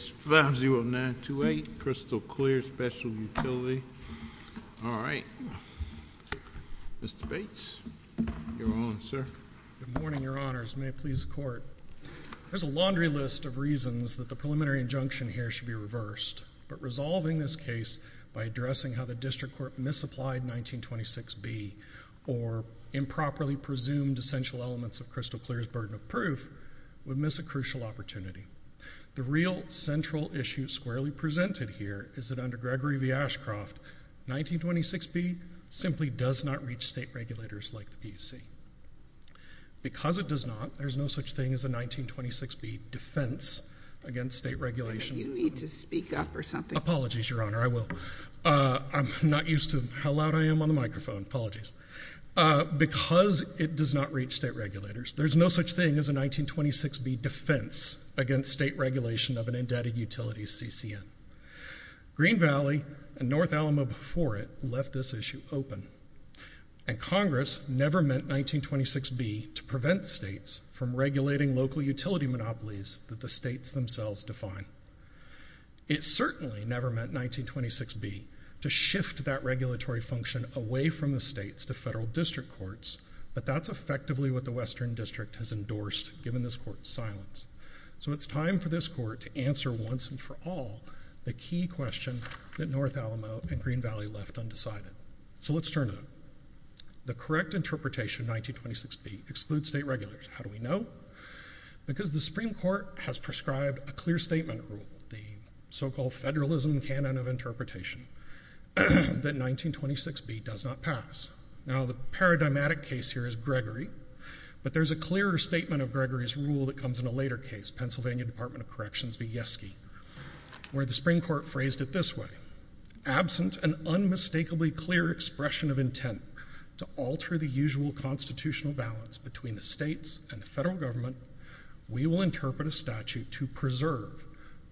5-0-9-2-8 Crystal Clear Special Utility All right. Mr. Bates, you're on, sir. Good morning, Your Honors. May it please the Court. There's a laundry list of reasons that the preliminary injunction here should be reversed, but resolving this case by addressing how the District Court misapplied 1926B or improperly presumed essential elements of Crystal Clear's burden of proof would miss a crucial opportunity. The real central issue squarely presented here is that under Gregory v. Ashcroft, 1926B simply does not reach state regulators like the PUC. Because it does not, there's no such thing as a 1926B defense against state regulation. You need to speak up or something. Apologies, Your Honor. I will. I'm not used to how loud I am on the microphone. Apologies. Because it does not reach state regulators, there's no such thing as a 1926B defense against state regulation of an indebted utility CCN. Green Valley and North Alamo before it left this issue open, and Congress never meant 1926B to prevent states from regulating local utility monopolies that the states themselves define. It certainly never meant 1926B to shift that regulatory function away from the states to federal district courts, but that's effectively what the Western District has endorsed, given this court's silence. So it's time for this court to answer once and for all the key question that North Alamo and Green Valley left undecided. So let's turn it up. The correct interpretation, 1926B, excludes state regulators. How do we know? Because the Supreme Court has prescribed a clear statement rule, the so-called federalism canon of interpretation, that 1926B does not pass. Now, the paradigmatic case here is Gregory, but there's a clearer statement of Gregory's rule that comes in a later case, Pennsylvania Department of Corrections v. Yeske, where the Supreme Court phrased it this way. Absent an unmistakably clear expression of intent to alter the usual constitutional balance between the states and the federal government, we will interpret a statute to preserve,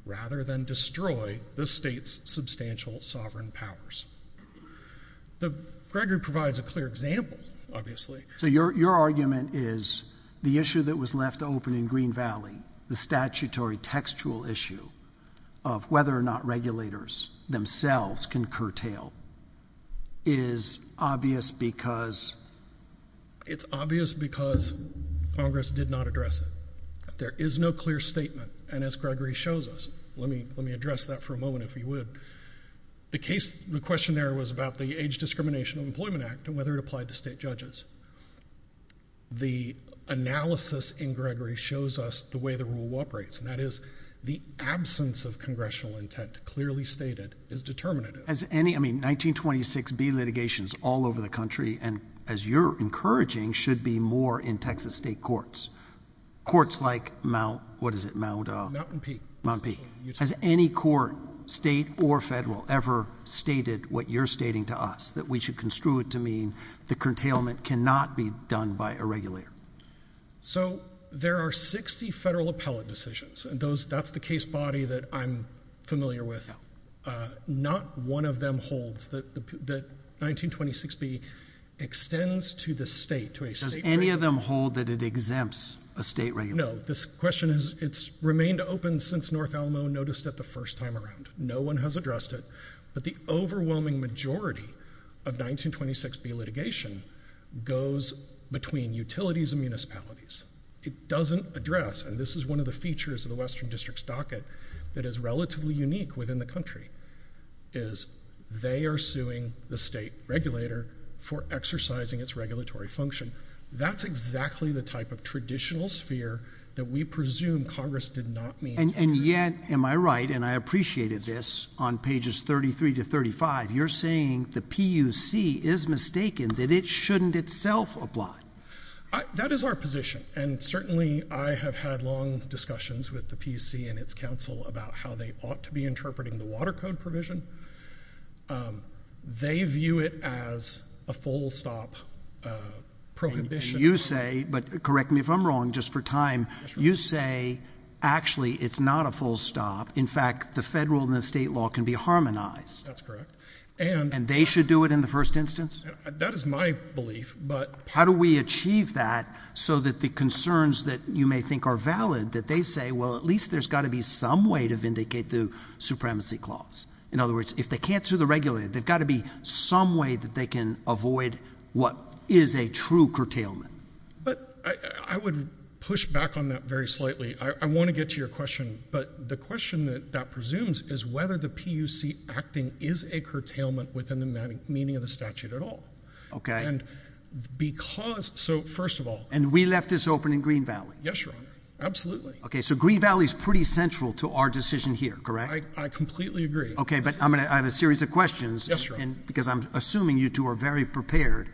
rather than destroy, the states' substantial sovereign powers. Gregory provides a clear example, obviously. So your argument is the issue that was left open in Green Valley, the statutory textual issue of whether or not regulators themselves can curtail, is obvious because... It's obvious because Congress did not address it. There is no clear statement, and as Gregory shows us, let me address that for a moment, if you would. The question there was about the Age Discrimination of Employment Act and whether it applied to state judges. The analysis in Gregory shows us the way the rule operates, and that is the absence of congressional intent, clearly stated, is determinative. 1926B litigation is all over the country, and as you're encouraging, should be more in Texas state courts. Courts like Mount, what is it? Mountain Peak. Has any court, state or federal, ever stated what you're stating to us, that we should construe it to mean the curtailment cannot be done by a regulator? So there are 60 federal appellate decisions, and that's the case body that I'm familiar with. Not one of them holds that 1926B extends to the state. Does any of them hold that it exempts a state regulator? No. This question has remained open since North Alamo noticed it the first time around. No one has addressed it, but the overwhelming majority of 1926B litigation goes between utilities and municipalities. It doesn't address, and this is one of the features of the Western District's docket that is relatively unique within the country, is they are suing the state regulator for exercising its regulatory function. That's exactly the type of traditional sphere that we presume Congress did not meet. And yet, am I right, and I appreciated this, on pages 33 to 35, you're saying the PUC is mistaken, that it shouldn't itself oblige. That is our position, and certainly I have had long discussions with the PUC and its council about how they ought to be interpreting the Water Code provision. They view it as a full stop prohibition. And you say, but correct me if I'm wrong, just for time, you say actually it's not a full stop. In fact, the federal and the state law can be harmonized. That's correct. And they should do it in the first instance? That is my belief. How do we achieve that so that the concerns that you may think are valid, that they say, well, at least there's got to be some way to vindicate the supremacy clause? In other words, if they can't sue the regulator, there's got to be some way that they can avoid what is a true curtailment. But I would push back on that very slightly. I want to get to your question, but the question that that presumes is whether the PUC acting is a curtailment within the meaning of the statute at all. Okay. And because so first of all. And we left this open in Green Valley. Yes, Your Honor. Absolutely. Okay. So Green Valley is pretty central to our decision here, correct? I completely agree. Okay. But I have a series of questions. Because I'm assuming you two are very prepared.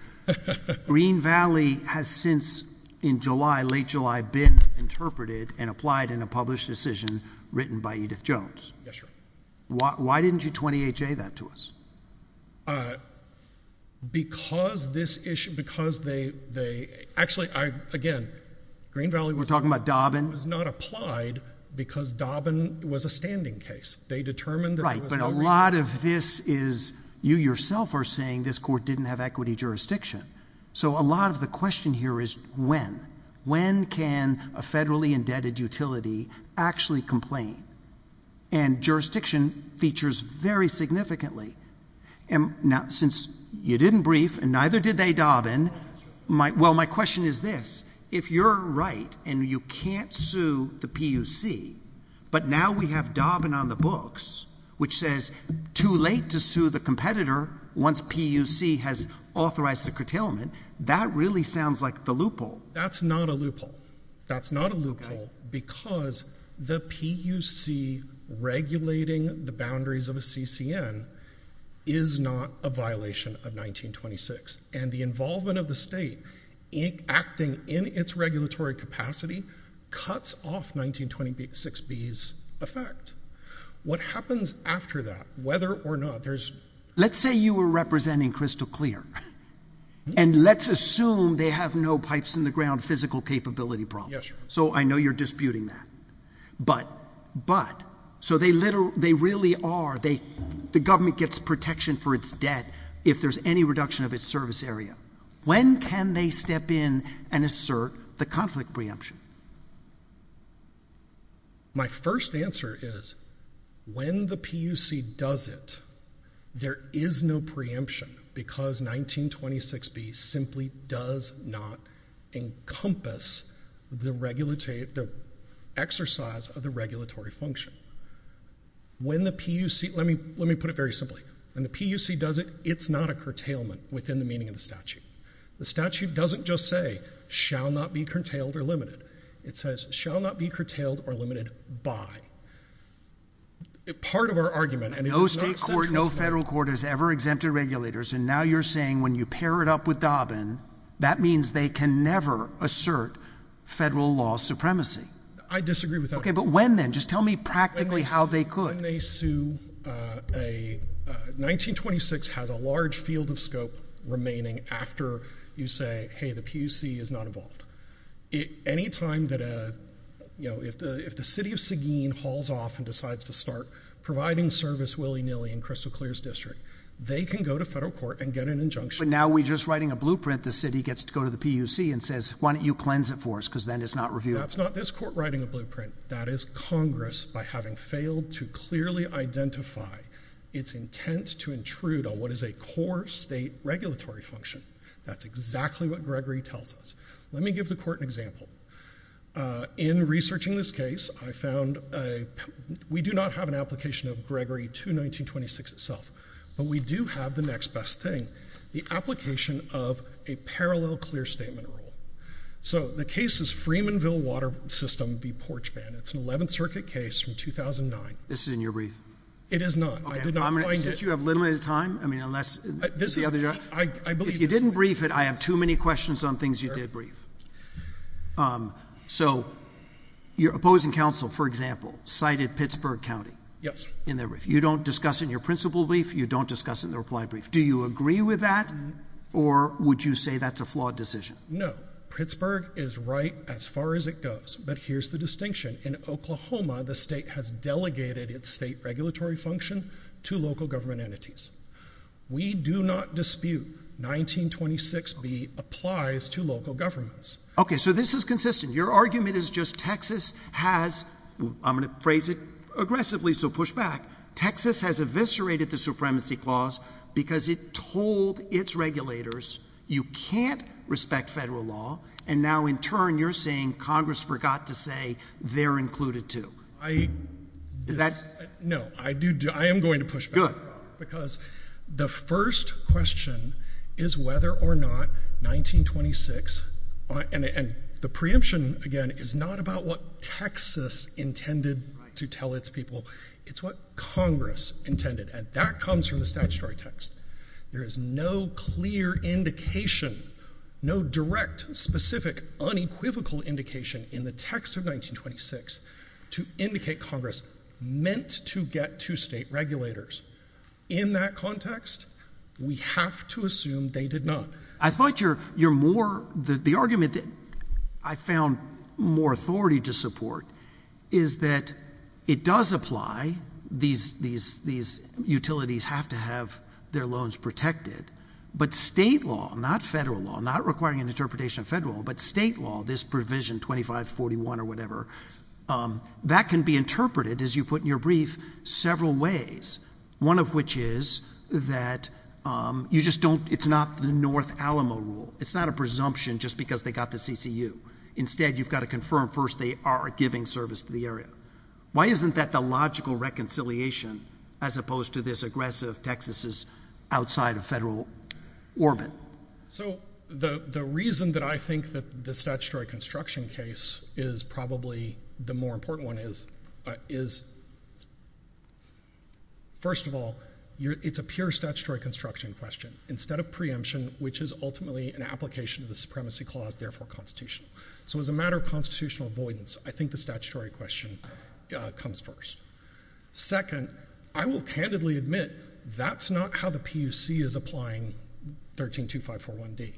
Green Valley has since in July, late July, been interpreted and applied in a published decision written by Edith Jones. Yes, Your Honor. Why didn't you 28-J that to us? Because this issue. Because they. Actually, again, Green Valley was. We're talking about Dobbin. Was not applied because Dobbin was a standing case. They determined. But a lot of this is you yourself are saying this court didn't have equity jurisdiction. So a lot of the question here is when. When can a federally indebted utility actually complain? And jurisdiction features very significantly. And now, since you didn't brief and neither did they Dobbin. Well, my question is this. If you're right and you can't sue the PUC. But now we have Dobbin on the books, which says. Too late to sue the competitor. Once PUC has authorized the curtailment. That really sounds like the loophole. That's not a loophole. Because the PUC regulating the boundaries of a CCN. Is not a violation of 1926. And the involvement of the state. Acting in its regulatory capacity. Cuts off 1926 B's effect. What happens after that, whether or not there's. Let's say you were representing crystal clear. And let's assume they have no pipes in the ground, Yes. So I know you're disputing that. But, but. So they literally, they really are. They, the government gets protection for its debt. If there's any reduction of its service area. When can they step in and assert the conflict preemption? My first answer is. When the PUC does it. There is no preemption. Because 1926 B simply does not. Encompass the regulatory. The exercise of the regulatory function. When the PUC, let me, let me put it very simply. When the PUC does it, it's not a curtailment. Within the meaning of the statute. The statute doesn't just say. Shall not be curtailed or limited. It says shall not be curtailed or limited by. Part of our argument. No state court, no federal court has ever exempted regulators. And now you're saying when you pair it up with Dobbin. That means they can never assert federal law supremacy. I disagree with that. Okay, but when then? Just tell me practically how they could. When they sue a. 1926 has a large field of scope. Remaining after you say, hey, the PUC is not involved. Any time that a. You know, if the, if the city of Sagin hauls off and decides to start. Providing service willy nilly and crystal clears district. They can go to federal court and get an injunction. But now we just writing a blueprint. The city gets to go to the PUC and says, why don't you cleanse it for us? Because then it's not review. That's not this court writing a blueprint. That is Congress. By having failed to clearly identify. It's intent to intrude on what is a core state regulatory function. That's exactly what Gregory tells us. Let me give the court an example. In researching this case, I found. We do not have an application of Gregory to 1926 itself. But we do have the next best thing. The application of a parallel clear statement rule. So the case is Freemanville water system. The porch band. It's an 11th circuit case from 2009. This is in your brief. It is not. I did not find it. You have limited time. I mean, unless this is the other. I believe you didn't brief it. I have too many questions on things. You did brief. So. You're opposing counsel, for example, cited Pittsburgh County. Yes. In there. If you don't discuss in your principal brief. You don't discuss in the reply brief. Do you agree with that? Or would you say that's a flawed decision? Pittsburgh is right. As far as it goes. But here's the distinction. In Oklahoma. The state has delegated its state regulatory function. To local government entities. We do not dispute. 1926 B applies to local governments. Okay. So this is consistent. Your argument is just Texas has. I'm going to phrase it aggressively. So push back. Texas has eviscerated the supremacy clause. Because it told its regulators. You can't respect federal law. And now, in turn, you're saying Congress forgot to say. They're included too. I. Is that. No, I do. I am going to push back. The first question. Is whether or not. 1926. And the preemption, again, is not about what Texas intended. To tell its people. It's what Congress intended. And that comes from the statutory text. There is no clear indication. No direct, specific, unequivocal indication. In the text of 1926. To indicate Congress. Meant to get to state regulators. In that context. We have to assume they did not. I thought you're. You're more. The argument that. I found. More authority to support. Is that. It does apply. These. These. Utilities have to have. Their loans protected. But state law. Not federal law. Not requiring an interpretation of federal. But state law. This provision. 2541 or whatever. That can be interpreted. As you put in your brief. Several ways. One of which is. That. You just don't. It's not. The North Alamo rule. It's not a presumption. Just because they got the CCU. Instead. You've got to confirm. First. They are giving service to the area. Why isn't that. The logical reconciliation. As opposed to this. Aggressive. Texas is. Outside of federal. Orbit. So. The. The reason. That I think. That the. Statutory construction case. Is probably. The more important one. Is. Is. First of all. You're. It's a pure. Statutory construction. Question. Instead of preemption. Which is ultimately. An application. Of the supremacy clause. Therefore. Constitution. So. It's a matter. Of constitutional avoidance. I think the statutory. Question. Comes first. Second. I will. Candidly. Admit. That's not. How the PUC. Is applying. Thirteen. Two. Five. Four. One. D.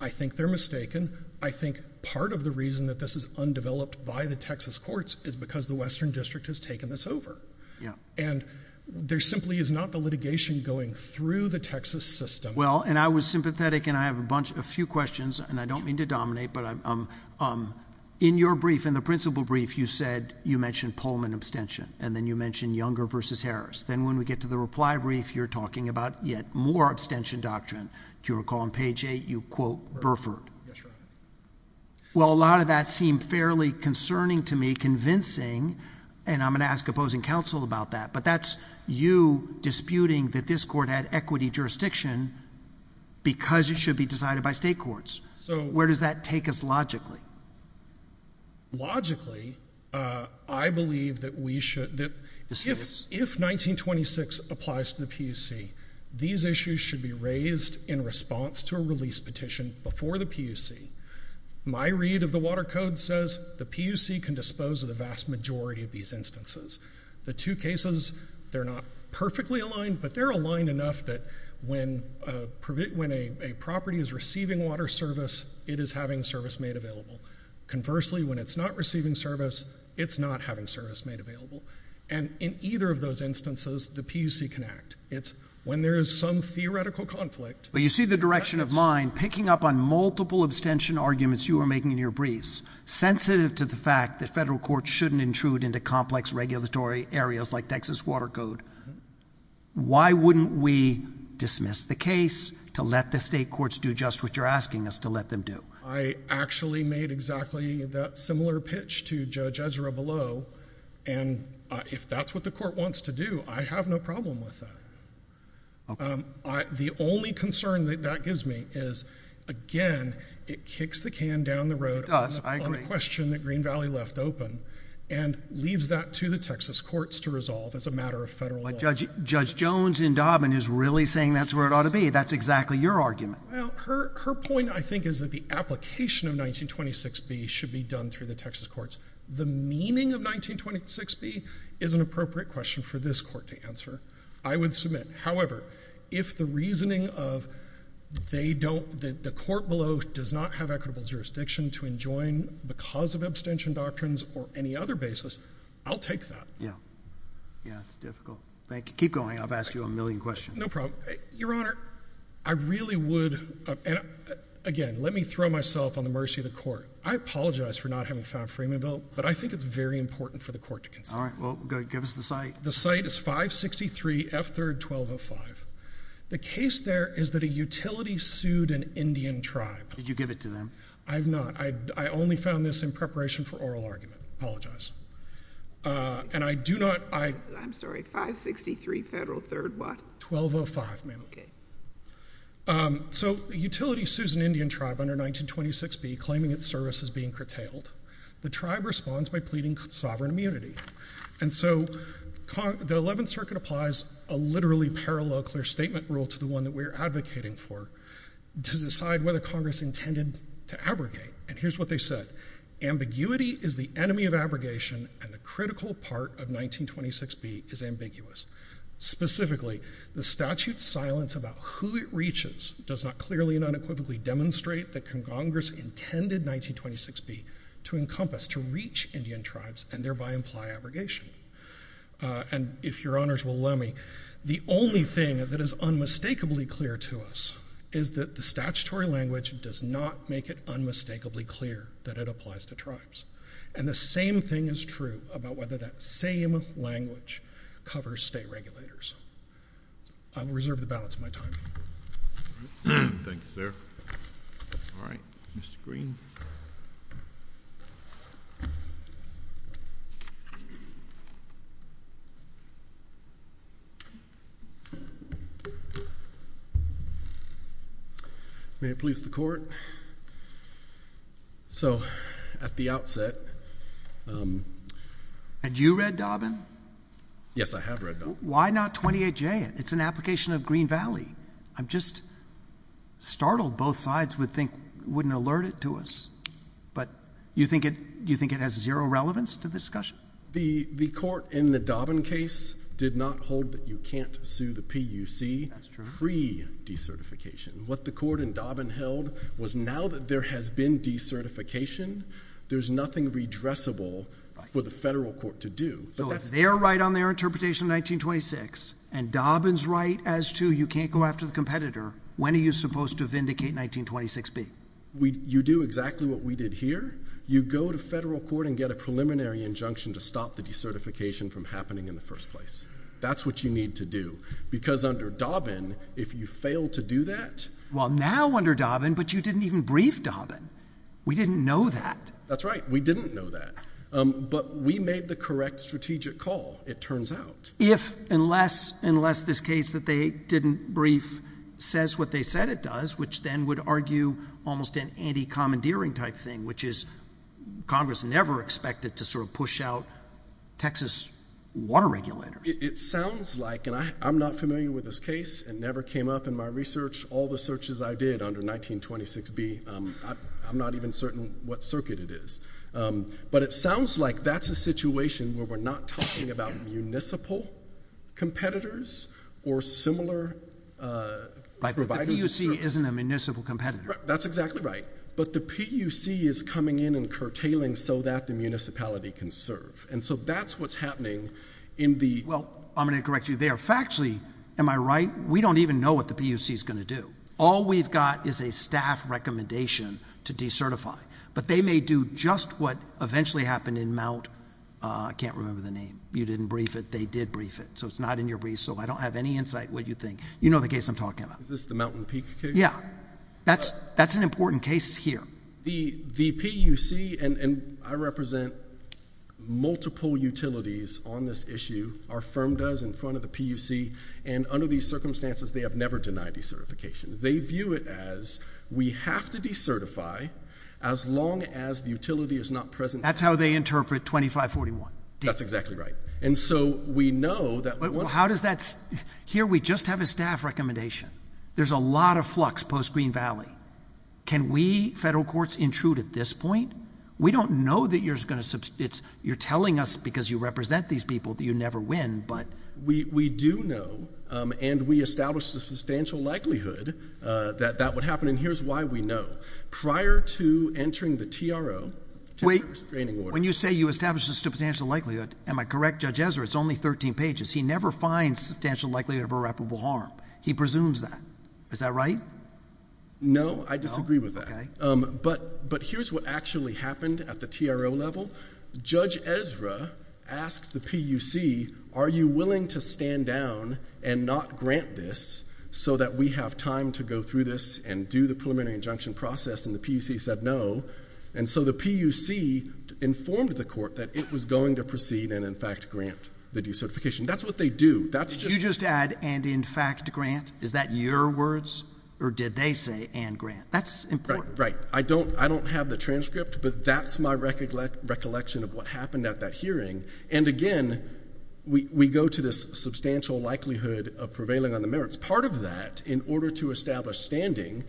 I think they're. Mistaken. I think. Part of the reason. That this is. Undeveloped. By the Texas courts. Is because the western district. Has taken this over. Yeah. And. There. There simply. Is not the litigation. Going through. The Texas system. Well. And I was sympathetic. And I have a bunch. A few questions. And I don't mean to dominate. But I'm. In your brief. In the principal brief. You said. You mentioned. Pullman abstention. And then you mentioned. Younger versus Harris. Then when we get to the reply. Brief. You're talking about. Yet more abstention. Doctrine. Do you recall. On page. Eight. You quote. Burford. Yes. And. You're. A lot of that. Seemed fairly. Concerning to me. Convincing. And I'm going to ask. Opposing counsel. About that. But that's. You. Disputing that this court. Had equity jurisdiction. Because it should be decided by state courts. So where does that take us. Logically. Logically. I believe. That we should. That. This is. If. 1926. Applies to the PUC. These issues. Should be raised. In response. To a release petition. Before the PUC. My read. Of the water code. Says. The PUC can dispose. Of the vast majority. Of these instances. The two cases. They're not. Perfectly aligned. But they're aligned. Enough that. When. When a. Property is receiving. Water service. It is having service. Made available. Conversely. When it's not receiving service. It's not having service. Made available. And. In either of those instances. The PUC can act. It's. When there is some. Theoretical conflict. But you see the direction. Of mine. Picking up on. Multiple abstention. Arguments you are making. In your briefs. Sensitive to the fact. That federal courts. Shouldn't intrude. Into complex. Regulatory areas. Like Texas water code. Why. Wouldn't we. Dismiss. The case. To let the state courts. Do just what you're asking. Us to let them do. I actually. Made exactly. That similar pitch. To judge. Ezra below. And. If that's what the court. Wants to do. I have no problem. With that. The only. Concern. That gives me. Again. It kicks the can. Down the road. I agree. On the question. That Green Valley left open. And. Leaves that to the Texas courts. To resolve. As a matter of federal law. Judge. Judge Jones. In Dobbin. Is really saying. That's where it ought to be. That's exactly. Your argument. Her point. I think. Is that the application. Of 1926 B. Should be done. Through the Texas courts. The meaning. Of 1926 B. Is an appropriate question. For this court. To answer. I would submit. If the reasoning. Of. They don't. The court below. Does not have equitable. Jurisdiction. To enjoin. Because of abstention doctrines. Or any other basis. I'll take that. Yeah. Yeah. It's difficult. Thank you. Keep going. I'll ask you a million questions. No problem. Your honor. I really would. And. Again. Let me throw myself. On the mercy of the court. I apologize. For not having found. A framing bill. But I think. It's very important. For the court. To consider. Well. Good. Give us the site. The site is 563. F third. 1205. The case there. Is that a utility sued. An Indian tribe. Did you give it to them. I have not. I only found this. In preparation. For oral argument. Apologize. And I do not. I. I'm sorry. 563. Federal third. What? 1205. I have not. Okay. So. Utility Susan. Indian tribe. Under 1926. B. Claiming its services. Being curtailed. The tribe responds. By pleading. Sovereign immunity. And so. The 11th. Circuit applies. A literally. Parallel. Clear statement. Rule to the one. That we're advocating. For. To decide whether. Congress intended. To abrogate. And here's what they said. Ambiguity. Is the enemy of abrogation. And the critical part. Of 1926. B. Is ambiguous. The statute. Silence about. Who it reaches. Does not clearly. And unequivocally. Demonstrate that. Congress intended. 1926. B. To encompass. To reach. Indian tribes. And thereby. Imply abrogation. And. If your honors will allow me. The only thing. That is unmistakably. Clear to us. Is that. The statutory language. Does not make it. Unmistakably. Clear. That it applies. To tribes. And the same thing. Is true. About whether that. Same. Language. Covers state regulators. I will reserve the balance of my time. Thank you sir. All right. Mr. Green. May it please the court. So. At the outset. Had you read. Dobbin. Yes. I have read. Why not. 28 J. It's an application. Of Green Valley. I'm just. Startled. Both sides. Would think. Wouldn't alert it. To us. But. You think it. You think it has. Zero relevance. To the discussion. The. The court. In the Dobbin case. Did not hold. That you can't. Sue the P. U.C. That's true. Free. De-certification. What the court. In Dobbin held. Was now. That there has been. De-certification. There's nothing. Redressable. Right. For the federal court. To do. But that's. Their right on their interpretation. 1926. And Dobbin's right. As to. You can't go after the competitor. When are you supposed to vindicate. 1926 B. We. You do exactly. What we did here. You go to federal court. And get a preliminary. Injunction. To stop the. De-certification. From happening. In the first place. That's what you need to do. Because under Dobbin. If you fail. To do that. Well now. Under Dobbin. But you didn't even. Brief Dobbin. We didn't know that. That's right. We didn't know that. But we made the correct. Strategic call. It turns out. If. Unless. Unless this case. That they. Didn't brief. Says what they said it does. Which then would argue. Almost an anti-commandeering. Type thing. Which is. Congress never expected. To sort of push out. Texas. Water regulators. It sounds like. And I. I'm not familiar. With this case. And never came up. In my research. All the searches. I did. Under 1926b. I'm not even certain. What circuit it is. But it sounds like. That's a situation. Where we're not. Talking about. Municipal. Competitors. Or similar. Providers. The PUC. Isn't a municipal. Competitor. That's exactly right. But the PUC. Is coming in. And curtailing. So that the municipality. Can serve. And so. That's what's happening. In the. In the PUC. I'm going to correct you there. Factually. Am I right? We don't even know. What the PUC. Is going to do. All we've got. Is a staff recommendation. To decertify. But they may do. Just what. Eventually happened. In mount. I can't remember the name. You didn't brief it. They did brief it. So it's not in your brief. So I don't have any insight. What you think. You know the case. I'm talking about. Is this the mountain peak case? Yeah. That's. That's an important case. Here. The PUC. The PUC. And. And. I represent. Multiple utilities. On this issue. Our firm does. In front of the PUC. And under these circumstances. They have never denied decertification. They view it as. We have to decertify. As long as the utility is not present. That's how they interpret 2541. That's exactly right. And so. We know that. How does that. Here we just have a staff recommendation. There's a lot of flux. Post Green Valley. Can we. Federal courts. Intrude at this point. We don't know. That you're going to. It's. You're telling us. Because you represent these people. That you never win. But. We do know. And we establish. The substantial likelihood. That. That would happen. And here's why we know. Prior to entering the TRO. Wait. When you say you establish. The substantial likelihood. Am I correct? Judge Ezra. It's only 13 pages. He never finds. Substantial likelihood. Of irreparable harm. He presumes that. Is that right? No. I disagree with that. But. But here's what actually. Happened. At the TRO level. Judge Ezra. Asked the PUC. Are you willing. To stand down. And not grant this. So that we have time. To go through this. And do the preliminary. Injunction process. And the PUC said no. And so the PUC. Informed the court. That it was going to proceed. And in fact grant. The decertification. That's what they do. That's just. You just add. And in fact grant. Is that your words? Or did they say. And grant. That's important. Right. I don't. I don't have the transcript. But that's my recollection. Of what happened. At that hearing. And again. We go to this. Substantial likelihood. Of prevailing on the merits. Part of that. In order to establish. Standing.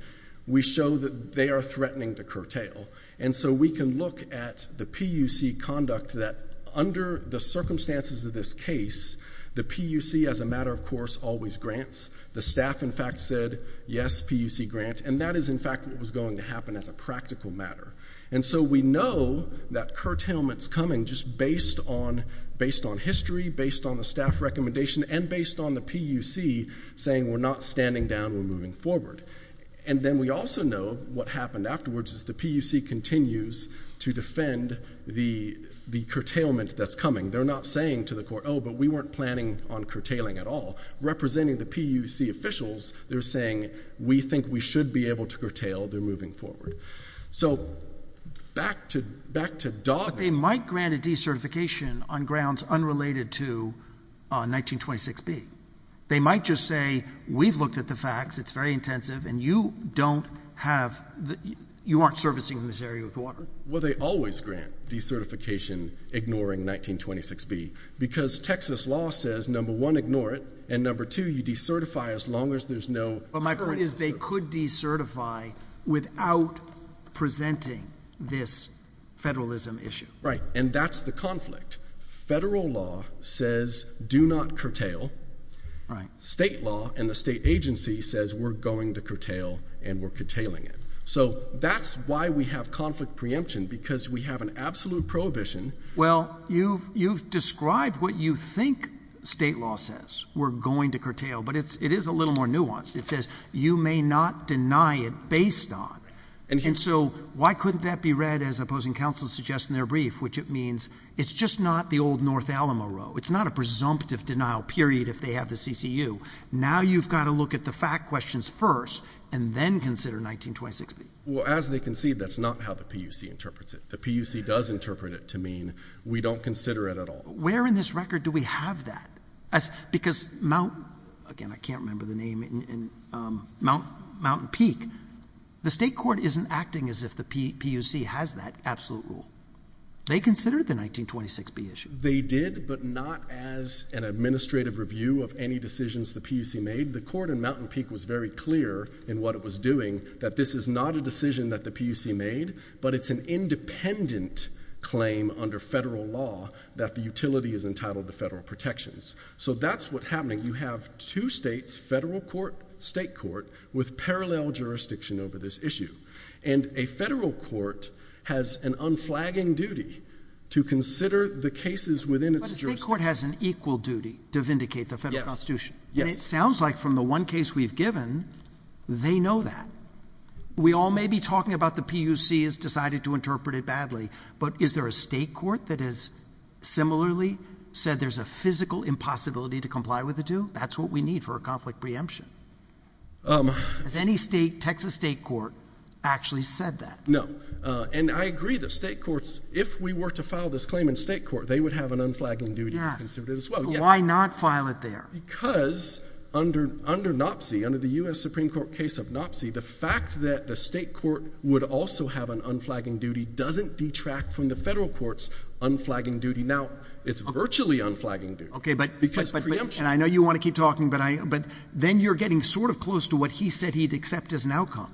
We show that. They are threatening. To curtail. And so we can look. At the PUC. Conduct. That under. The circumstances. Of this case. The PUC. As a matter of course. Always grants. The staff. In fact said. Yes. PUC grant. And that is in fact. What was going to happen. As a practical matter. And so we know. That curtailment. Is coming. Just based on. Based on history. Based on the staff. Recommendation. And based on the PUC. Saying. We're not standing down. We're moving forward. And then we also know. What happened afterwards. Is the PUC. Continues. To defend. The. The curtailment. That's coming. They're not saying. To the court. Oh. But we weren't planning. On curtailing. At all. Representing. The PUC. Officials. They're saying. We think. We should be able. To curtail. They're moving forward. So. Back to. Back to. Dog. They might grant. A decertification. On grounds. Unrelated to. On 1926 B. They might just say. We've looked at the facts. It's very intensive. And you. Don't have. You aren't servicing. In this area. With water. Well they always grant. Decertification. 1926 B. Because. Texas law says. Number one. Ignore it. And number two. You decertify. As long as there's no. But my point is. They could decertify. Without. Presenting. This. Federalism. Issue. Right. And that's the conflict. Federal law. Says. Do not curtail. Right. State law. And the state agency says. We're going to curtail. And we're curtailing it. So. That's why we have. Conflict preemption. Because. We have an absolute prohibition. Well. You've. You've. Described. What you think. State law says. We're going to curtail. But it's. It is a little more nuanced. It says. You may not. Deny it. Based on. And so. Why couldn't that be read. As opposing counsel. Suggesting their brief. Which it means. It's just not the old. North Alamo. Row. It's not a presumptive. Denial. Period. If they have the CCU. Now. You've got to look at the. Fact questions. First. And then. Consider 1926. Well. As they can see. That's not how the PUC. Interprets it. The PUC. Does interpret it. To mean. We don't consider it. At all. Where in this record. Do we have that. As. Because. Mount. Again. I can't remember the name. And. Mount. Mountain Peak. The state court. Isn't acting. As if the PUC. Has that. Absolute. Rule. They consider. The 1926. B. Issue. They did. But. Not. As. An administrative. Review. Of any decisions. The PUC. Made. The court. In Mountain Peak. Was very clear. In what it was doing. That this. Is not a decision. That the PUC. Made. But it's an independent. Claim. Under federal law. That the utility. Is entitled. To federal protections. So. That's what's happening. You have. Two states. Federal court. State court. With parallel jurisdiction. Over this issue. And. A federal court. Has an unflagging. Duty. To consider. The cases. Within its jurisdiction. Has an equal duty. To vindicate. The federal constitution. Yes. And it sounds like. From the one case we've given. They know that. We all may be talking about. The PUC. Has decided to interpret it. Badly. But is there a state court. That has. Similarly. Said there's a physical. Impossibility. To comply with the two. That's what we need. For a conflict. Preemption. Um. Has any state. Texas state court. Actually said that. No. Uh. And I agree that state courts. If we were to file this claim. In state court. They would have an unflagging duty. Yes. To consider it as well. Yes. So why not file it there? Because. Under. Under NOPC. Under the U.S. Supreme Court. Case of NOPC. The fact that the state court. Would also have an unflagging duty. Doesn't detract. From the federal courts. Unflagging duty. It's virtually unflagging duty. But. Because preemption. And I know you want to keep talking. But I. But. Then you're getting sort of close. To what he said. He'd accept as an outcome.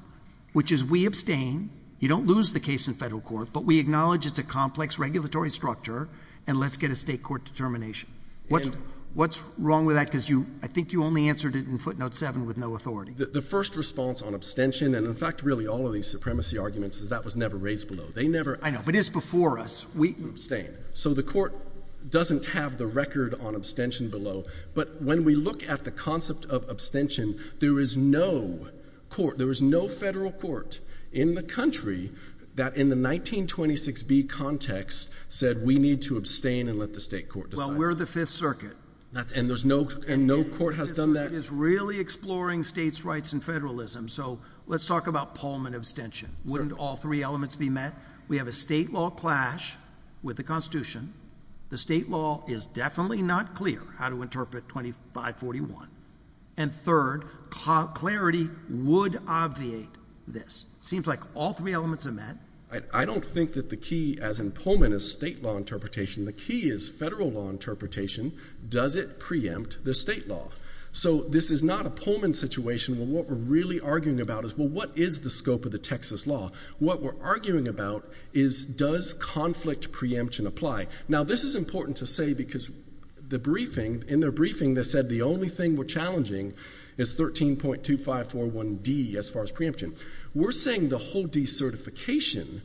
Which is we abstain. You don't lose the case. In federal court. But we acknowledge. It's a complex regulatory structure. And let's get a state court determination. And. What's. What's wrong with that? Because you. I think you only answered it. In footnote seven. With no authority. The first response. On abstention. And in fact. Really. All of these supremacy arguments. Is that was never raised below. They never. I know. But it's before us. We. Abstain. So the court. Doesn't have the record. On abstention below. But when we look at the concept. Of abstention. There is no. Court. There is no federal court. In the country. That in the nineteen. Twenty six B. Context. Said we need to abstain. And let the state court. Decide. Well we're the fifth circuit. That's. And there's no. And no court has done that. Is really exploring. States rights. And federalism. Let's talk about. Pullman abstention. Wouldn't all three elements. Be met. We have a state law. Clash. With the constitution. The state law. Is definitely not clear. How to interpret. Twenty five. Forty one. And third. Clarity. Would obviate. This. Seems like. All three elements are met. I don't think that the key. As in Pullman. Is state law interpretation. The key. Is federal law interpretation. Does it. Preempt. The state law. So. This is not a Pullman. Situation. What we're really arguing about. Is well. What is the scope. Of the Texas law. What we're arguing about. Is. Does conflict. Preemption apply. Now this is important to say. Because. The briefing. In their briefing. They said the only thing. We're challenging. Is thirteen point. Two five. Four one. D. As far as preemption. We're saying. The whole decertification.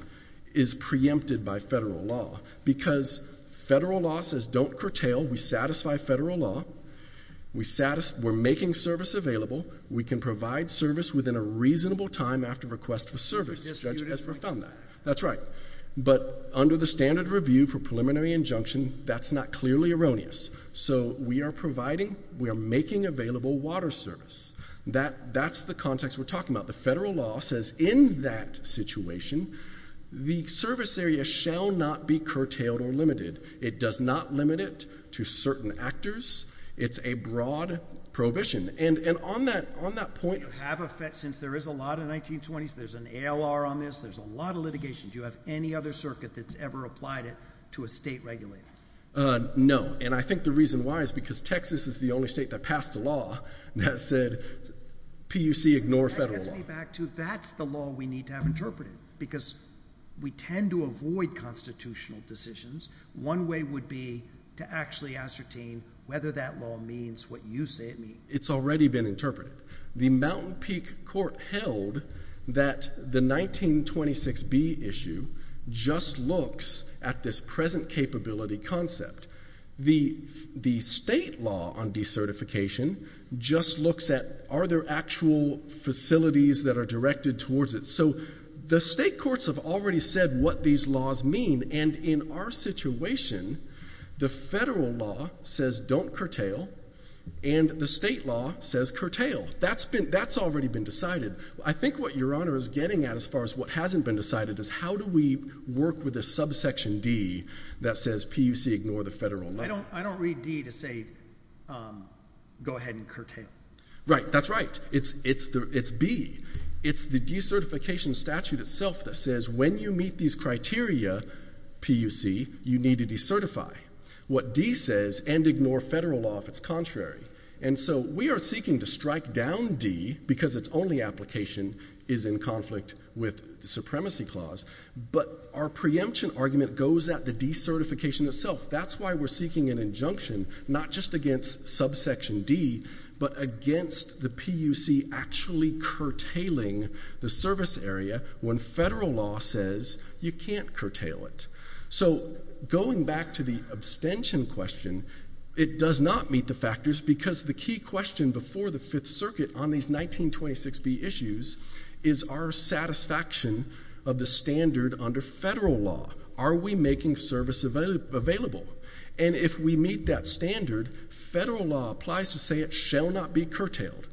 Is preempted. By federal law. Because. Federal law. Says don't curtail. We satisfy federal law. We satisfy. We're making service available. We can provide service. Within a reasonable time. After request for service. Judge Esper found that. That's right. But. Under the standard review. For preliminary injunction. That's not clearly erroneous. So. We are providing. We are making available. Water service. That. That's the context. We're talking about. The federal law. Says in that. Situation. The service area. Shall not be curtailed. Or limited. It does not limit. It. To certain actors. It's. A broad. Prohibition. And on that. On that point. You have effect. Since there is a lot of 1920s. There's an ALR on this. There's a lot of litigation. Do you have any other circuit. That's ever applied it. To a state regulator. Uh. No. And I think the reason why. Is because Texas. Is the only state. That passed a law. That said. PUC. Ignore federal law. That gets me back to. That's the law. We need to have interpreted. Because. We tend to avoid. Constitutional decisions. One way. Would be. To actually ascertain. Whether that law. Means. What you say it means. It's already been interpreted. The Mountain Peak. Court held. That. The 1926B. Issue. Just looks. At this present capability. Concept. The. The state law. On decertification. Just looks at. Are there actual. That are directed. Towards it. So. The state courts. Have already said. What these laws. Mean. And in our situation. The federal law. Says don't curtail. And the state law. Says curtail. That's been. That's already been decided. I think what your honor. Is getting at. As far as. What hasn't been decided. Is how do we. Work with a subsection. D. That says. PUC. Ignore the federal law. I don't read. D. To say. Go ahead. And curtail. Right. That's right. It's. It's the. It's B. It's the decertification. Statute itself. That says. When you meet. These criteria. PUC. You need to decertify. What. D. Says. And ignore federal law. If it's contrary. And so. We are seeking. To strike down. D. Because it's only application. Is in conflict. With the supremacy clause. But. Our preemption argument. Goes at the decertification. Itself. That's why we're seeking. An injunction. Not just against. Subsection. D. But against. The PUC. Actually. Curtailing. The service. Area. When federal law. Says. You can't curtail. It. Going back to the. Abstention question. It does not meet. The factors. Because the key question. Before the fifth circuit. On these nineteen. Twenty six. B. Issues. Is our satisfaction. Of the standard. Under federal law. Are we making. Service. Available. And if we meet. That standard. Federal law. Applies to say. It shall not be curtailed.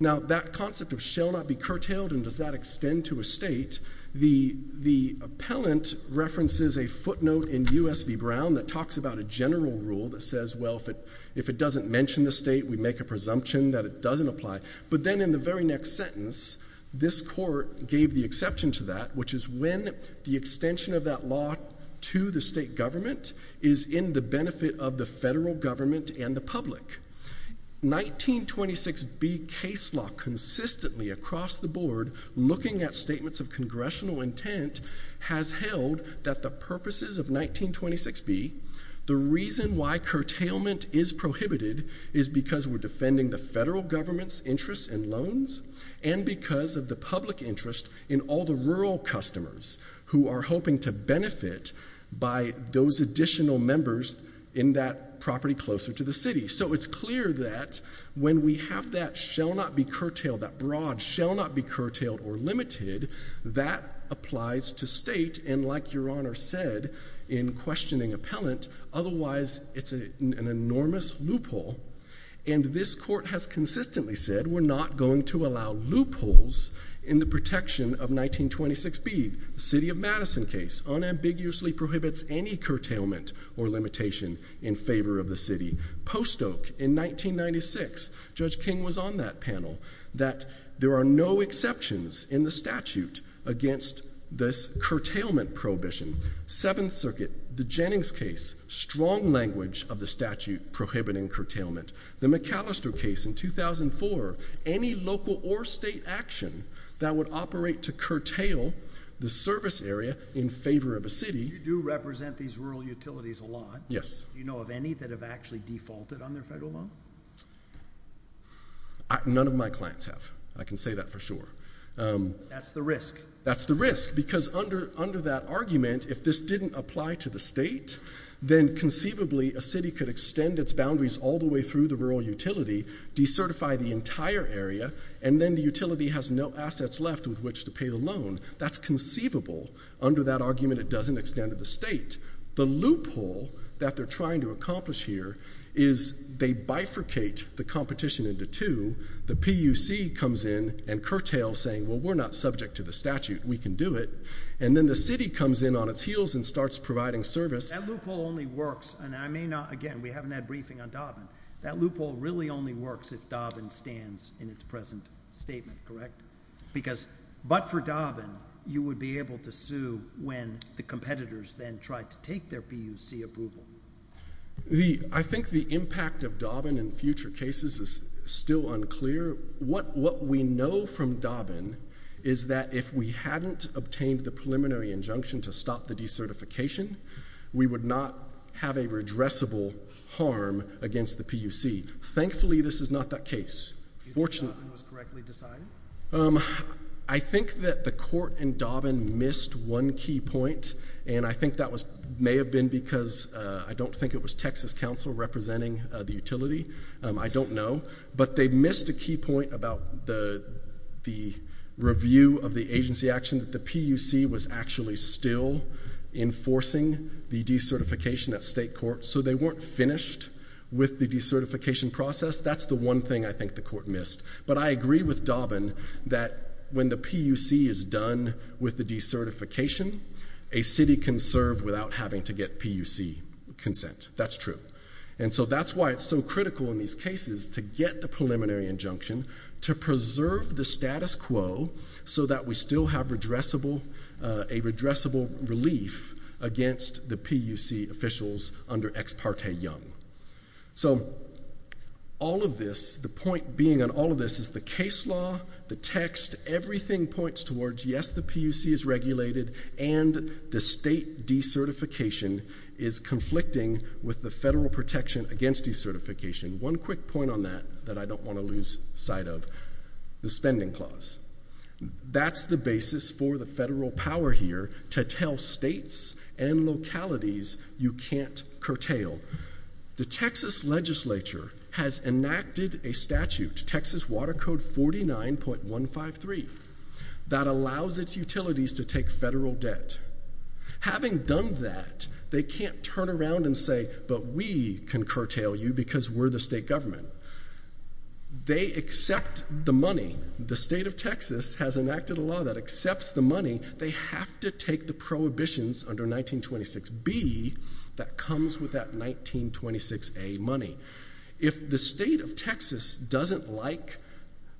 Now. That concept. Of shall not be curtailed. And does that extend. To a state. The. The. Appellant. References. A footnote. In U.S. V. Brown. That talks about. A general rule. That says. Well. If it. If it doesn't mention. The state. We make a presumption. That it doesn't apply. But then. In the very next sentence. This court. Gave the exception. To that. Which is when. The extension. Of that law. To the state. Government. Is in the benefit. Of the federal. Government. And the public. 1926. B. Case law. Consistently. Across the board. Looking at statements. Of congressional. Intent. Has held. That the purposes. Of 1926. B. The reason. Why curtailment. Is prohibited. Is because. We're defending the federal. Government's. Interests. And loans. And because. Of the public interest. In all the rural. Customers. Who are hoping. To benefit. By. Those additional. Members. In that property. Closer to the city. So it's clear. That. When we have that. Shall not be curtailed. That broad. Shall not be curtailed. Or limited. That. Applies. To state. And like your honor. Said. In questioning. Appellant. Otherwise. It's a. An enormous. Loophole. And this court. Has consistently said. We're not going. To allow. Loopholes. In the protection. Of 1926. Speed. City of Madison case. Unambiguously. Prohibits. Any curtailment. Or limitation. In favor. Of the city. Post oak. In 1996. Judge king. Was on that panel. That. There are no exceptions. In the statute. Against. This curtailment. Prohibition. Seventh circuit. The jennings case. Strong language. Of the statute. Prohibiting curtailment. The mccallister case. In 2004. Any local. Or state. Action. That would operate. To curtail. The service area. In favor. Of a city. You do represent. These rural utilities. A lot. Yes. You know of any. That have actually defaulted. On their federal law. None of my clients. Have. I can say that. For sure. That's the risk. That's the risk. Because under. Under that argument. If this didn't apply. To the state. Then conceivably. A city could extend. Its boundaries. All the way through. The rural utility. De-certify. The entire area. And then the utility. Has no assets. Left. With which to pay. The loan. That's conceivable. Under that argument. It doesn't extend. To the state. The loophole. That they're trying. To accomplish here. Is. They bifurcate. The competition. Into two. The puc. Comes in. And curtail. Saying well. We're not subject. To the statute. We can do it. And then the city. Comes in on its heels. And starts providing. Service. That loophole. Only works. And I may not. We haven't had briefing. On Dobbin. That loophole. Really only works. If Dobbin. Stands. In its present. Statement. Correct? Because. But for Dobbin. You would be able. To sue. When. The competitors. Then tried. To take their puc. Approval. The. I think the impact. Of Dobbin. In future cases. Is still unclear. What. What we know. From Dobbin. Is that. If we hadn't. Obtained the preliminary. Injunction. To stop. The decertification. We would not. Have a. Redressable. Harm. Against the puc. Thankfully. This is not. That case. Fortunately. Was correctly. Decided. I think. That the court. In Dobbin. Missed. One key point. And I think. That was. May have been. Because. I don't think it was Texas. Council. Representing. The utility. I don't know. But they missed. A key point. About the. The. Review. Of the agency. Action. That the puc. Was actually. Still. Enforcing. The decertification. At state court. So they weren't. Finished. With the decertification. Process. That's the one thing. I think the court. Missed. But I agree. With Dobbin. That when the puc. Is done. With the decertification. A city. Can serve. Without having. To get puc. Consent. That's true. And so. That's why. It's so critical. In these cases. To get the preliminary. Injunction. To preserve. The status quo. So that. We still have. Redressable. A redressable. Relief. Against. The puc. Officials. Under. Ex parte. Young. So. All of this. The point. Being. On all of this. Is the case law. The text. Everything. Points towards. Yes. The puc. Is regulated. And. The state. Decertification. Is conflicting. With the federal protection. Against decertification. One quick point. On that. That I don't want to lose. Sight of. The spending clause. That's the basis. For the federal. Power here. To tell states. And localities. You can't. Curtail. The Texas. Legislature. Has enacted. A statute. Texas. Water code. Forty nine. Point. One. Five. Three. That allows. Its utilities. To take. Federal debt. Having done. That. They can't. Turn around. And say. But we. Can curtail you. Because we're the state. Government. They accept. The money. The state. Of Texas. Has enacted a law. That accepts. The money. They have. To take. The prohibitions. Under nineteen. Twenty six. B. That comes. With that. Nineteen. Twenty six. A money. If the state. Of Texas. Doesn't like.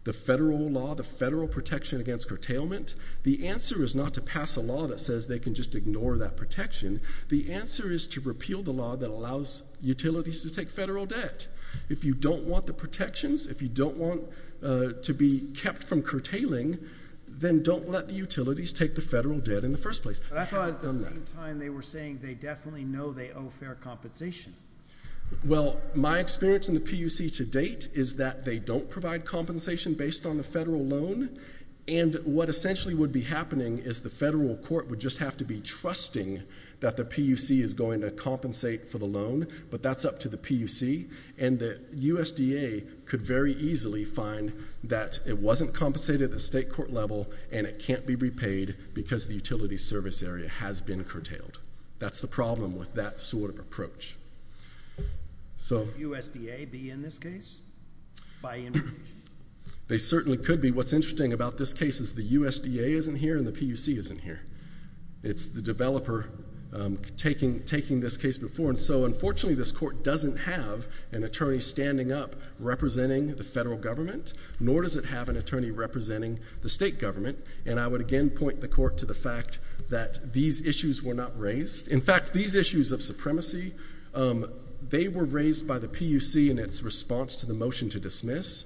The federal law. The federal protection. Against curtailment. The answer. Is not to pass a law. That says. They can just ignore. That protection. The answer. Is to repeal the law. That allows. Utilities. To take federal debt. If you don't want. The protections. If you don't want. To be. Kept. From curtailing. Then don't let. The utilities. Take the federal debt. In the first place. But I thought. At the same time. They were saying. They definitely know. They owe. Fair compensation. Well. My experience. In the P. U.C. To date. Is that. They don't provide. Compensation. Based on the federal loan. And what essentially. Would be happening. Is the federal court. Would just have to be trusting. That the P. U.C. Could very easily. Find. It wasn't compensated. At the state court level. And it can't be repaid. Because the utilities. Service area. Has been curtailed. That's the problem. With that sort. Of approach. So. S. D. A. Be in this case? By. They certainly could be. What's interesting. About this case. Is the U. D. A. Isn't here. And the P. U. Is not standing up. Representing. The federal government. Nor does it have an attorney. Representing. The state government. And I would again. Point the court. To the fact. That these issues. Were not raised. In fact. These issues. Of supremacy. They were raised. By the P. U. C. In its response. To the motion. To dismiss.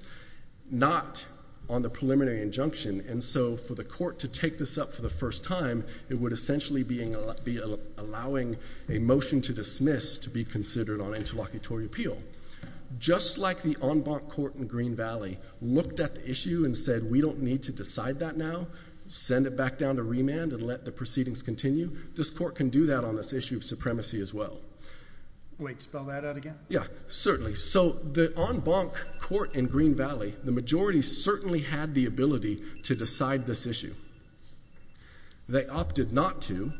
Not. On the preliminary injunction. And so. For the court. To take this up. For the first time. It would essentially. Be allowing. A motion. To dismiss. To be considered. On interlocutory appeal. Just like. The en banc. Court. In Green Valley. Looked at the issue. And said. We don't need. To decide that now. Send it back down. To remand. And let the proceedings. Continue. This court can do that. On this issue. Of supremacy. As well. Wait. Spell that out again. Yeah. Certainly. So. The en banc. Court. In Green Valley. The majority. Had the ability. To decide. This issue. They opted. Not to.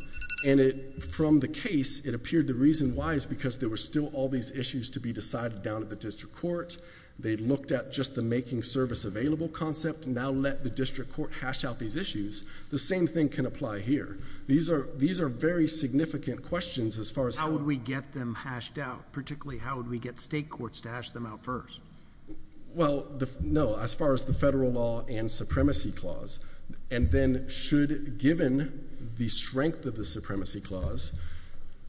And it. From the case. It appeared. The reason why. Is because. There were still. All these issues. To be decided. Down at the district court. They looked at. Just the making service. Available concept. Now let the district court. Hash out these issues. The same thing. Can apply here. These are. These are very significant. Questions. As far as. How would we get them. Hashed out. Particularly. How would we get. State courts. To hash them out. First. Well. No. As far as. The federal law. And supremacy. Clause. And then. Should. Given. The strength. Of the supremacy. Clause.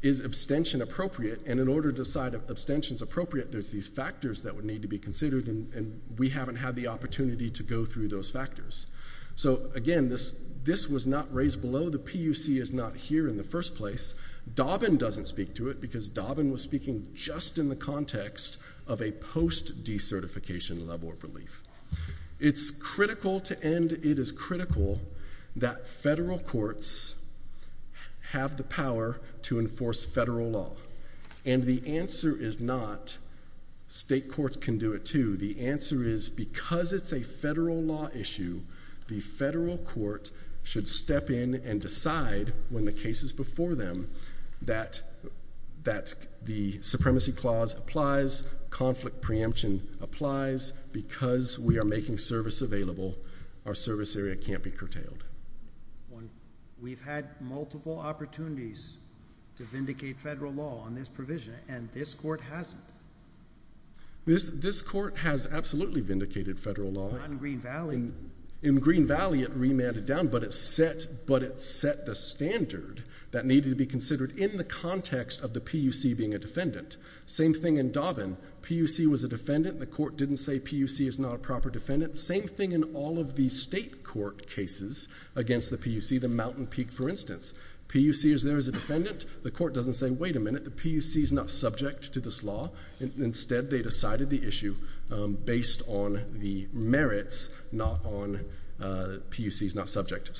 Is abstention. Appropriate. And in order. To decide. If abstention. Is appropriate. There's these factors. That would need. To be considered. And we haven't. Had the opportunity. To go through. Those factors. Again. This. This was not raised below. The PUC is not here. In the first place. Dobbin doesn't speak to it. Because Dobbin. Was speaking. Just in the context. Of a post. De-certification. Level of relief. It's critical. To end. It is critical. That federal courts. Have the power. To enforce federal law. And the answer is not. State courts can do it too. The answer is. Because it's a federal law issue. The federal court. Should step in. And decide. When the case is before them. That. That. The. Supremacy clause. Applies. Conflict preemption. Applies. Because. We are making service available. Our service area. Can't be curtailed. We've had. Multiple opportunities. To vindicate federal law. On this provision. And this court. Hasn't. This. This court. Has absolutely. Vindicated. Vindicated. Federal law. In Green Valley. It remanded down. But it set. But it set. The standard. That needed to be considered. In the context. Of the PUC. Being a defendant. Same thing in Doven. PUC was a defendant. The court didn't say. PUC is not a proper defendant. Same thing. In all of the. State court. Cases. Against the PUC. The Mountain Peak. For instance. PUC is there. As a defendant. The court doesn't say. Wait a minute. The PUC is not subject. To this law. Instead. They decided the issue. Based on. The merits. Not on. PUC is not subject.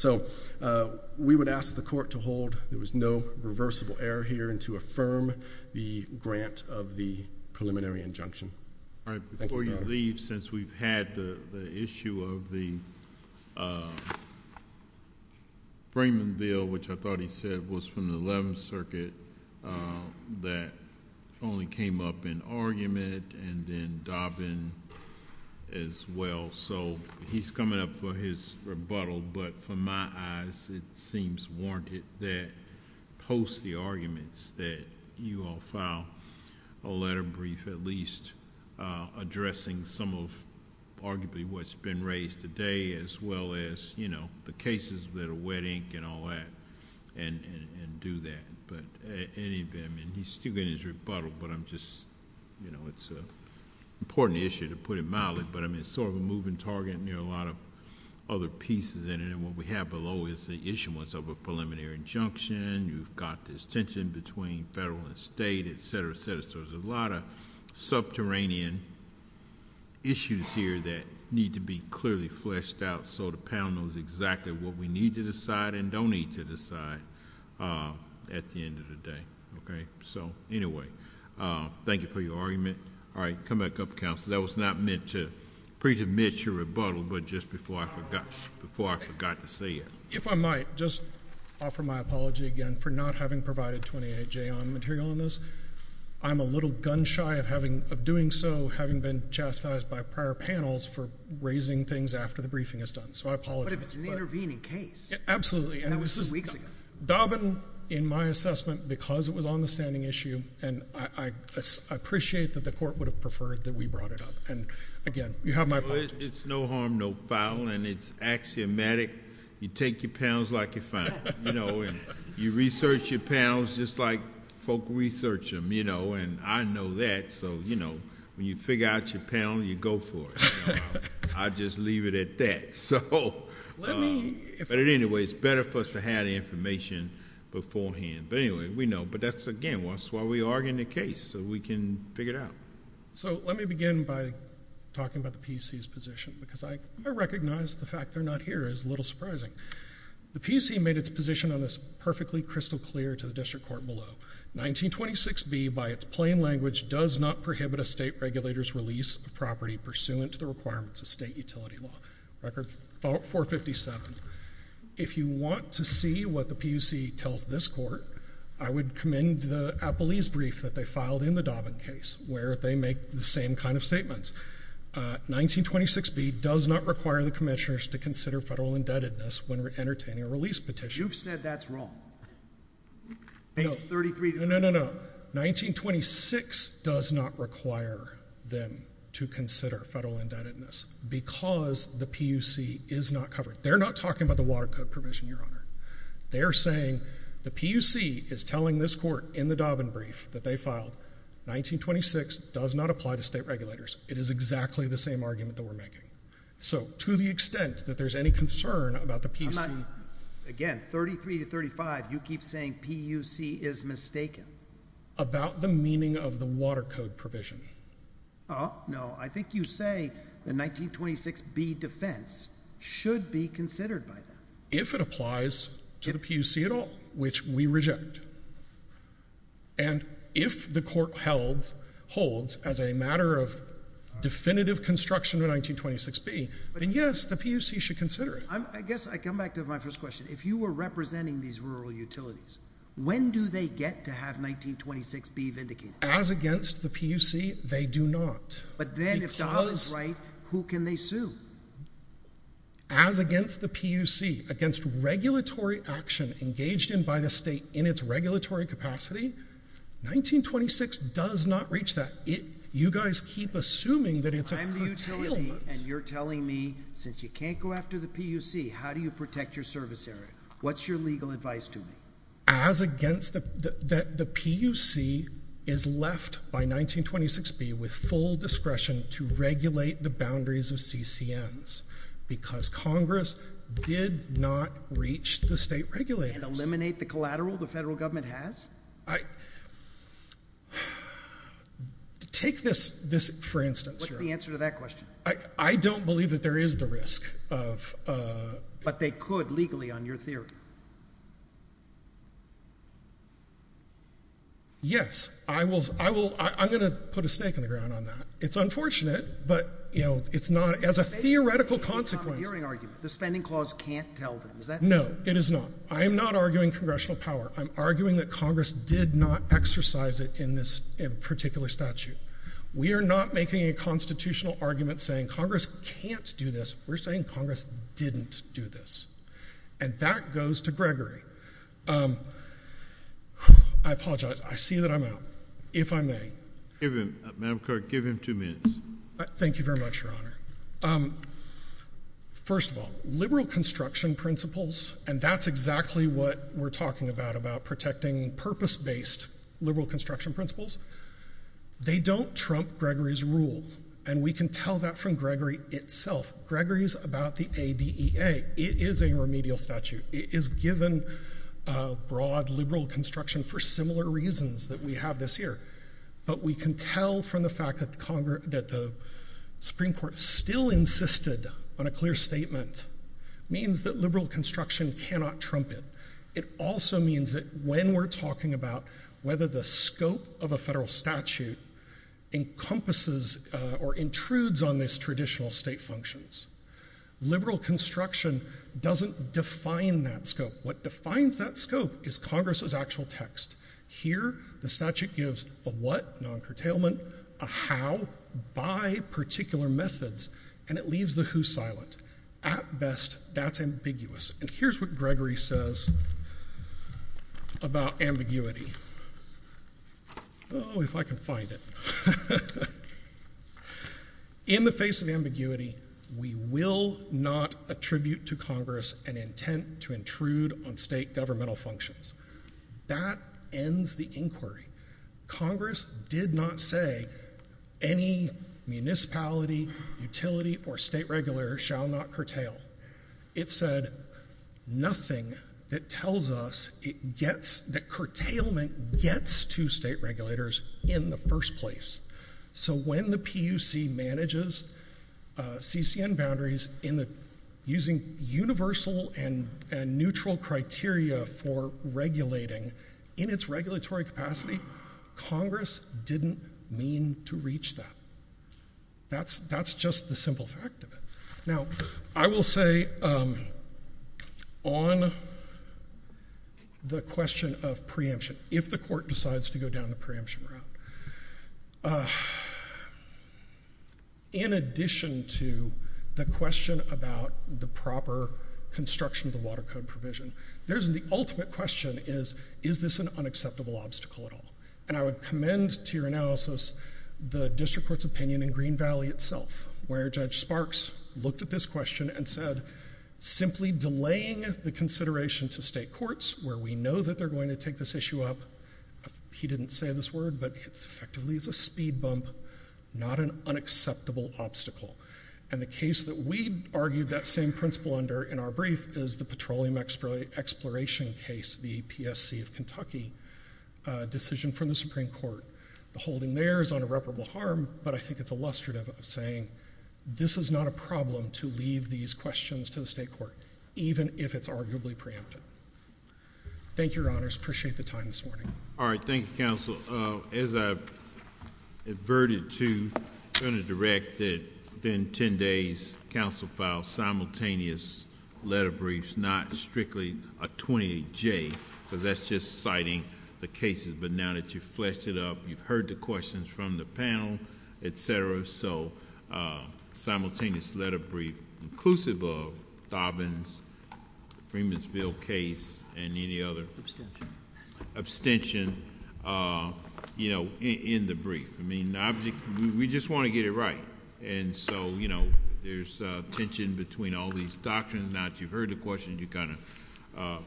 We would ask the court. To hold. There was no. Reversible error. Here. And to affirm. The grant. Of the. Preliminary injunction. All right. Before you leave. Since we've had. The issue. Of the. Freeman. Bill. Which I thought he said. Was from the 11th. Circuit. That. Only came up. With. An argument. And then. Dobbin. As well. So. He's coming up. For his. Rebuttal. But. For my eyes. It seems. Warranted. That. Post the arguments. That. You all file. A letter brief. At least. Addressing. Some of. Arguably. What's been raised. Today. As well as. You know. The cases. That are wet ink. And all that. And. And do that. Any of them. And he's still getting his rebuttal. But I'm just. You know. It's a. Important issue. To put it mildly. But I mean. Sort of a moving target. Near a lot of. Other pieces in it. And what we have below. Is the issuance. Of a preliminary. Injunction. You've got this tension. Between federal. And state. Et cetera. Et cetera. So. There's a lot of. Subterranean. Issues here. That need to be clearly. Fleshed out. So the panel knows exactly. What we need to decide. And don't need to decide. At the end of the day. Okay. So. Anyway. Thank you for your argument. All right. Come back up. Counselor. That was not meant to. Pre-admit your rebuttal. But just before I forgot. Before I forgot to say it. If I might. Just. Offer my apology. Again. For not having provided 28J. On material on this. I'm a little gun shy. Of having. Of doing so. Having been chastised. By prior panels. For raising things. After the briefing. Is done. So I apologize. But if it's an intervening case. Absolutely. That was two weeks ago. And this is. Dobbin. In my assessment. Because it was on the standing issue. And I. I appreciate that the court. Would have preferred. That we brought it up. And again. You have my apologies. It's no harm. No foul. And it's axiomatic. You take your panels. Like you're fine. You know. And you research your panels. Just like. Folk research them. You know. And I know that. So. You know. When you figure out your panel. You go for it. I just leave it at that. Let me. But at any rate. It's better for us. To have the information. Before hand. But anyway. We know. But that's again. That's why we argue in the case. So we can. Figure it out. So. Let me begin by. Talking about the PC's position. Because I. I recognize the fact. They're not here. Is a little surprising. The PC made it's position. On this. Perfectly crystal clear. To the district court. Below. 1926 B. By it's plain language. Does not prohibit. A state regulator's release. Of property. Pursuant. To the requirements. Of state utility law. Record. 457. If you want. To see. What the PC. Tells this court. I would commend. The appellee's brief. That they filed. In the Dobbin case. Where they make. The same kind of statements. 1926 B. Does not require. The commissioners. To consider federal indebtedness. When we're entertaining. A release petition. You've said. That's wrong. No. 33. No. No. No. No. 1926. Does not require. Them. To consider. Federal indebtedness. Because. The PC. Is not covered. They're not talking. About the water code provision. Your honor. They're saying. The PC. Is telling this court. In the Dobbin brief. That they filed. 1926. Does not apply. To state regulators. It is exactly. The same argument. That we're making. So. To the extent. That there's any concern. About the PC. Again. 33. To 35. You keep saying. PUC. Is mistaken. About the meaning. Of the water code. Provision. Oh. No. I think you say. The 1926. B defense. Should be considered. By them. If it applies. To the PC. At all. Which we reject. And. If the court. Helds. Holds. As a matter of. Definitive construction. Of 1926. B. Then yes. The PC. Should consider it. I guess. I come back. To my first question. If you were representing. These rural utilities. When do they get. To have 1926. B. Vindicated. As against. The PUC. They do not. But then. If the house. Right. Who can they sue. As against. The PUC. Against regulatory. Action. Engaged in. By the state. In its regulatory. Capacity. 1926. Does not reach. That it. You guys. Keep. Assuming. That it's. And you're. Telling me. Since you can't. Go after the PUC. How do you protect. Your service area. What's your legal advice. To me. As against. The PUC. Is left. By 1926. B. With full discretion. To regulate. The boundaries. Of CCNs. Because Congress. Did not. Reach. The state. Regulate. And eliminate. The collateral. The federal government. Has. I. Take. For instance. What's the answer. To that question. I don't believe. That there is. The risk. Of. But they could. Legally. On your theory. Yes. I will. I will. I'm going to. Put a snake. In the ground. On that. It's unfortunate. But. You know. It's not. As a theoretical. Consequence. The spending. Clause can't. Tell them. No. It is not. I am not arguing. Congressional power. I'm arguing. That Congress. Did not. Exercise it. In this. In a particular statute. We are not. Making a constitutional. Argument. Saying Congress. Can't do this. We're saying Congress. Didn't do this. And that goes to Gregory. I apologize. I see that I'm out. If I may. Give him. Madam Clerk. Give him two minutes. Thank you very much. Your Honor. First of all. The liberal. Construction. Principles. And that's exactly what. We're talking about. About protecting. Purpose based. Liberal construction. Principles. They don't trump. Gregory's rule. And we can tell that from. Gregory. Itself. Gregory's about the. A. E. A. It is a remedial statute. It is given. A broad. Liberal construction. For similar reasons. That we have this here. But we can tell. From the fact. That the Congress. That the. Supreme Court. Still insisted. On a clear statement. Means that liberal. Construction. Cannot trump it. It. Also means that. When we're talking about. Whether the scope. Of a federal statute. Encompasses. Or intrudes. On this traditional. State functions. Liberal. Construction. Doesn't define. That scope. What defines. That scope. Is Congress's. Actual text. Here. The statute gives. A what. Non curtailment. A how. By. Particular methods. And it leaves. The who. Silent. At best. That's ambiguous. And here's what. Gregory says. About. Ambiguity. Oh. If I can find it. In the face. Of ambiguity. We will. Not. Attribute. To Congress. An intent. To intrude. On state. Governmental functions. That. Ends. The inquiry. Congress. Did not say. Any. Municipality. Or state regulators. Shall not curtail. It said. Nothing. That tells us. It gets. That curtailment. Gets. To state regulators. In the first place. So when the PUC. Manages. CCN. Boundaries. In the. Using. Universal. And. Neutral. Criteria. For. Regulating. In its regulatory. Capacity. Congress. Didn't. Mean. Reach. That. That's. That's. Just. The simple. Fact. Of it. Now. I will say. On. The question. Of preemption. If the court. Decides. To go down. The preemption. Route. In addition. To. The question. About. The proper. Construction. Of the water code. Provision. There's. The ultimate question. Is this an. Unacceptable. Obstacle. At all. And I would commend. To your analysis. The district. Court's opinion. In Green Valley. Itself. Where Judge. Sparks. Looked at this question. And said. Simply. Delaying. The consideration. To state courts. Where we know. That they're going. To take this issue up. He didn't say this word. But it's effectively. It's a speed bump. Not an. Unacceptable. Obstacle. And the case. That we. Argued. That same principle. Under. In our brief. Is the petroleum. Exploration. Case. The PSC. Of Kentucky. Decision. From the Supreme Court. The holding there. Is on irreparable harm. But I think. It's illustrative. Of saying. This is not a problem. To leave. These questions. To the state court. Even if. It's arguably preempted. Thank your honors. Appreciate the time. This morning. All right. Thank you. Counsel. As I. Averted. To. Kind of. Directed. Then. Ten days. Counsel. Files. Simultaneous. Letter briefs. Not strictly. A 28. J. Because that's just citing. The cases. But now that you've. Fleshed it up. You've heard the questions. From the panel. Et cetera. So. Simultaneous. Letter brief. Inclusive of. Dobbins. Freemansville case. And any other. Abstention. Abstention. You know. In the brief. I mean. Object. We just want to get it right. And so. You know. There's. A tension. Between all these doctrines. Now that you've heard the questions. You kind of.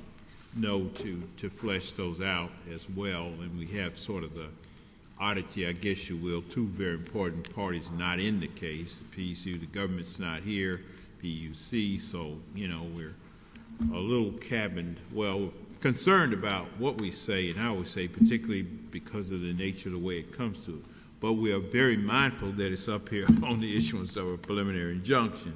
Know. To. Flesh those out. As well. And we have sort of the. Oddity. I guess you will. Two very important parties. Not in the case. P. The government's not here. P. U. C. So. You know. We're. A little. Cabin. Well. Concerned about. What we say. And I always say. Particularly. Because of the nature. Of the way it comes to. But we are very mindful. That it's up here. On the issuance. Of a preliminary. Injunction.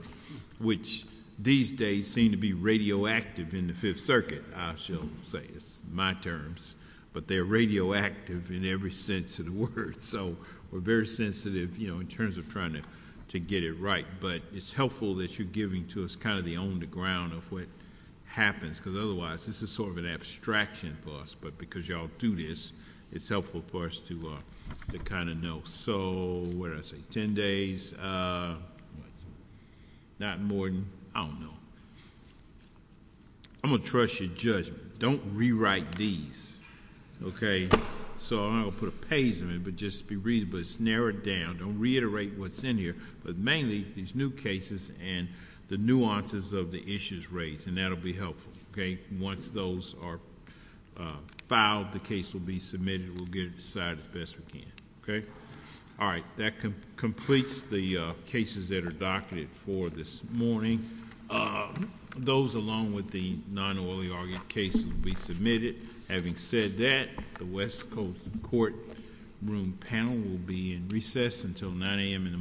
Which. These days. Seem to be radioactive. In the fifth circuit. I shall say. It's my terms. But they're radioactive. In every sense. Of the word. So. We're very sensitive. You know. In terms of trying. To get it right. It's helpful. That you're giving to us. Kind of. The on the ground. Of what. Happens. Because otherwise. This is sort of an abstraction. For us. But because y'all do this. It's helpful. For us to. To kind of know. So. What did I say? Ten days. Not more than. I don't know. I'm going to trust. Your judgment. Don't rewrite. These. Okay. So. I'm going to put a page. In it. For just. To be reasonable. It's narrowed down. Don't reiterate. What's in here. But mainly. These new cases. And the nuances. Of the issues. Raised. And that'll be helpful. Okay. Once those are. Filed. The case will be submitted. We'll get it decided. As best we can. Okay. All right. That completes. The cases. That are documented. For this morning. Those. Along with the. Non oily. Argued. Cases will be submitted. Having said that. We are adjourned. The West Coast. Courtroom. Panel will be. In recess until 9 a.m. In the morning.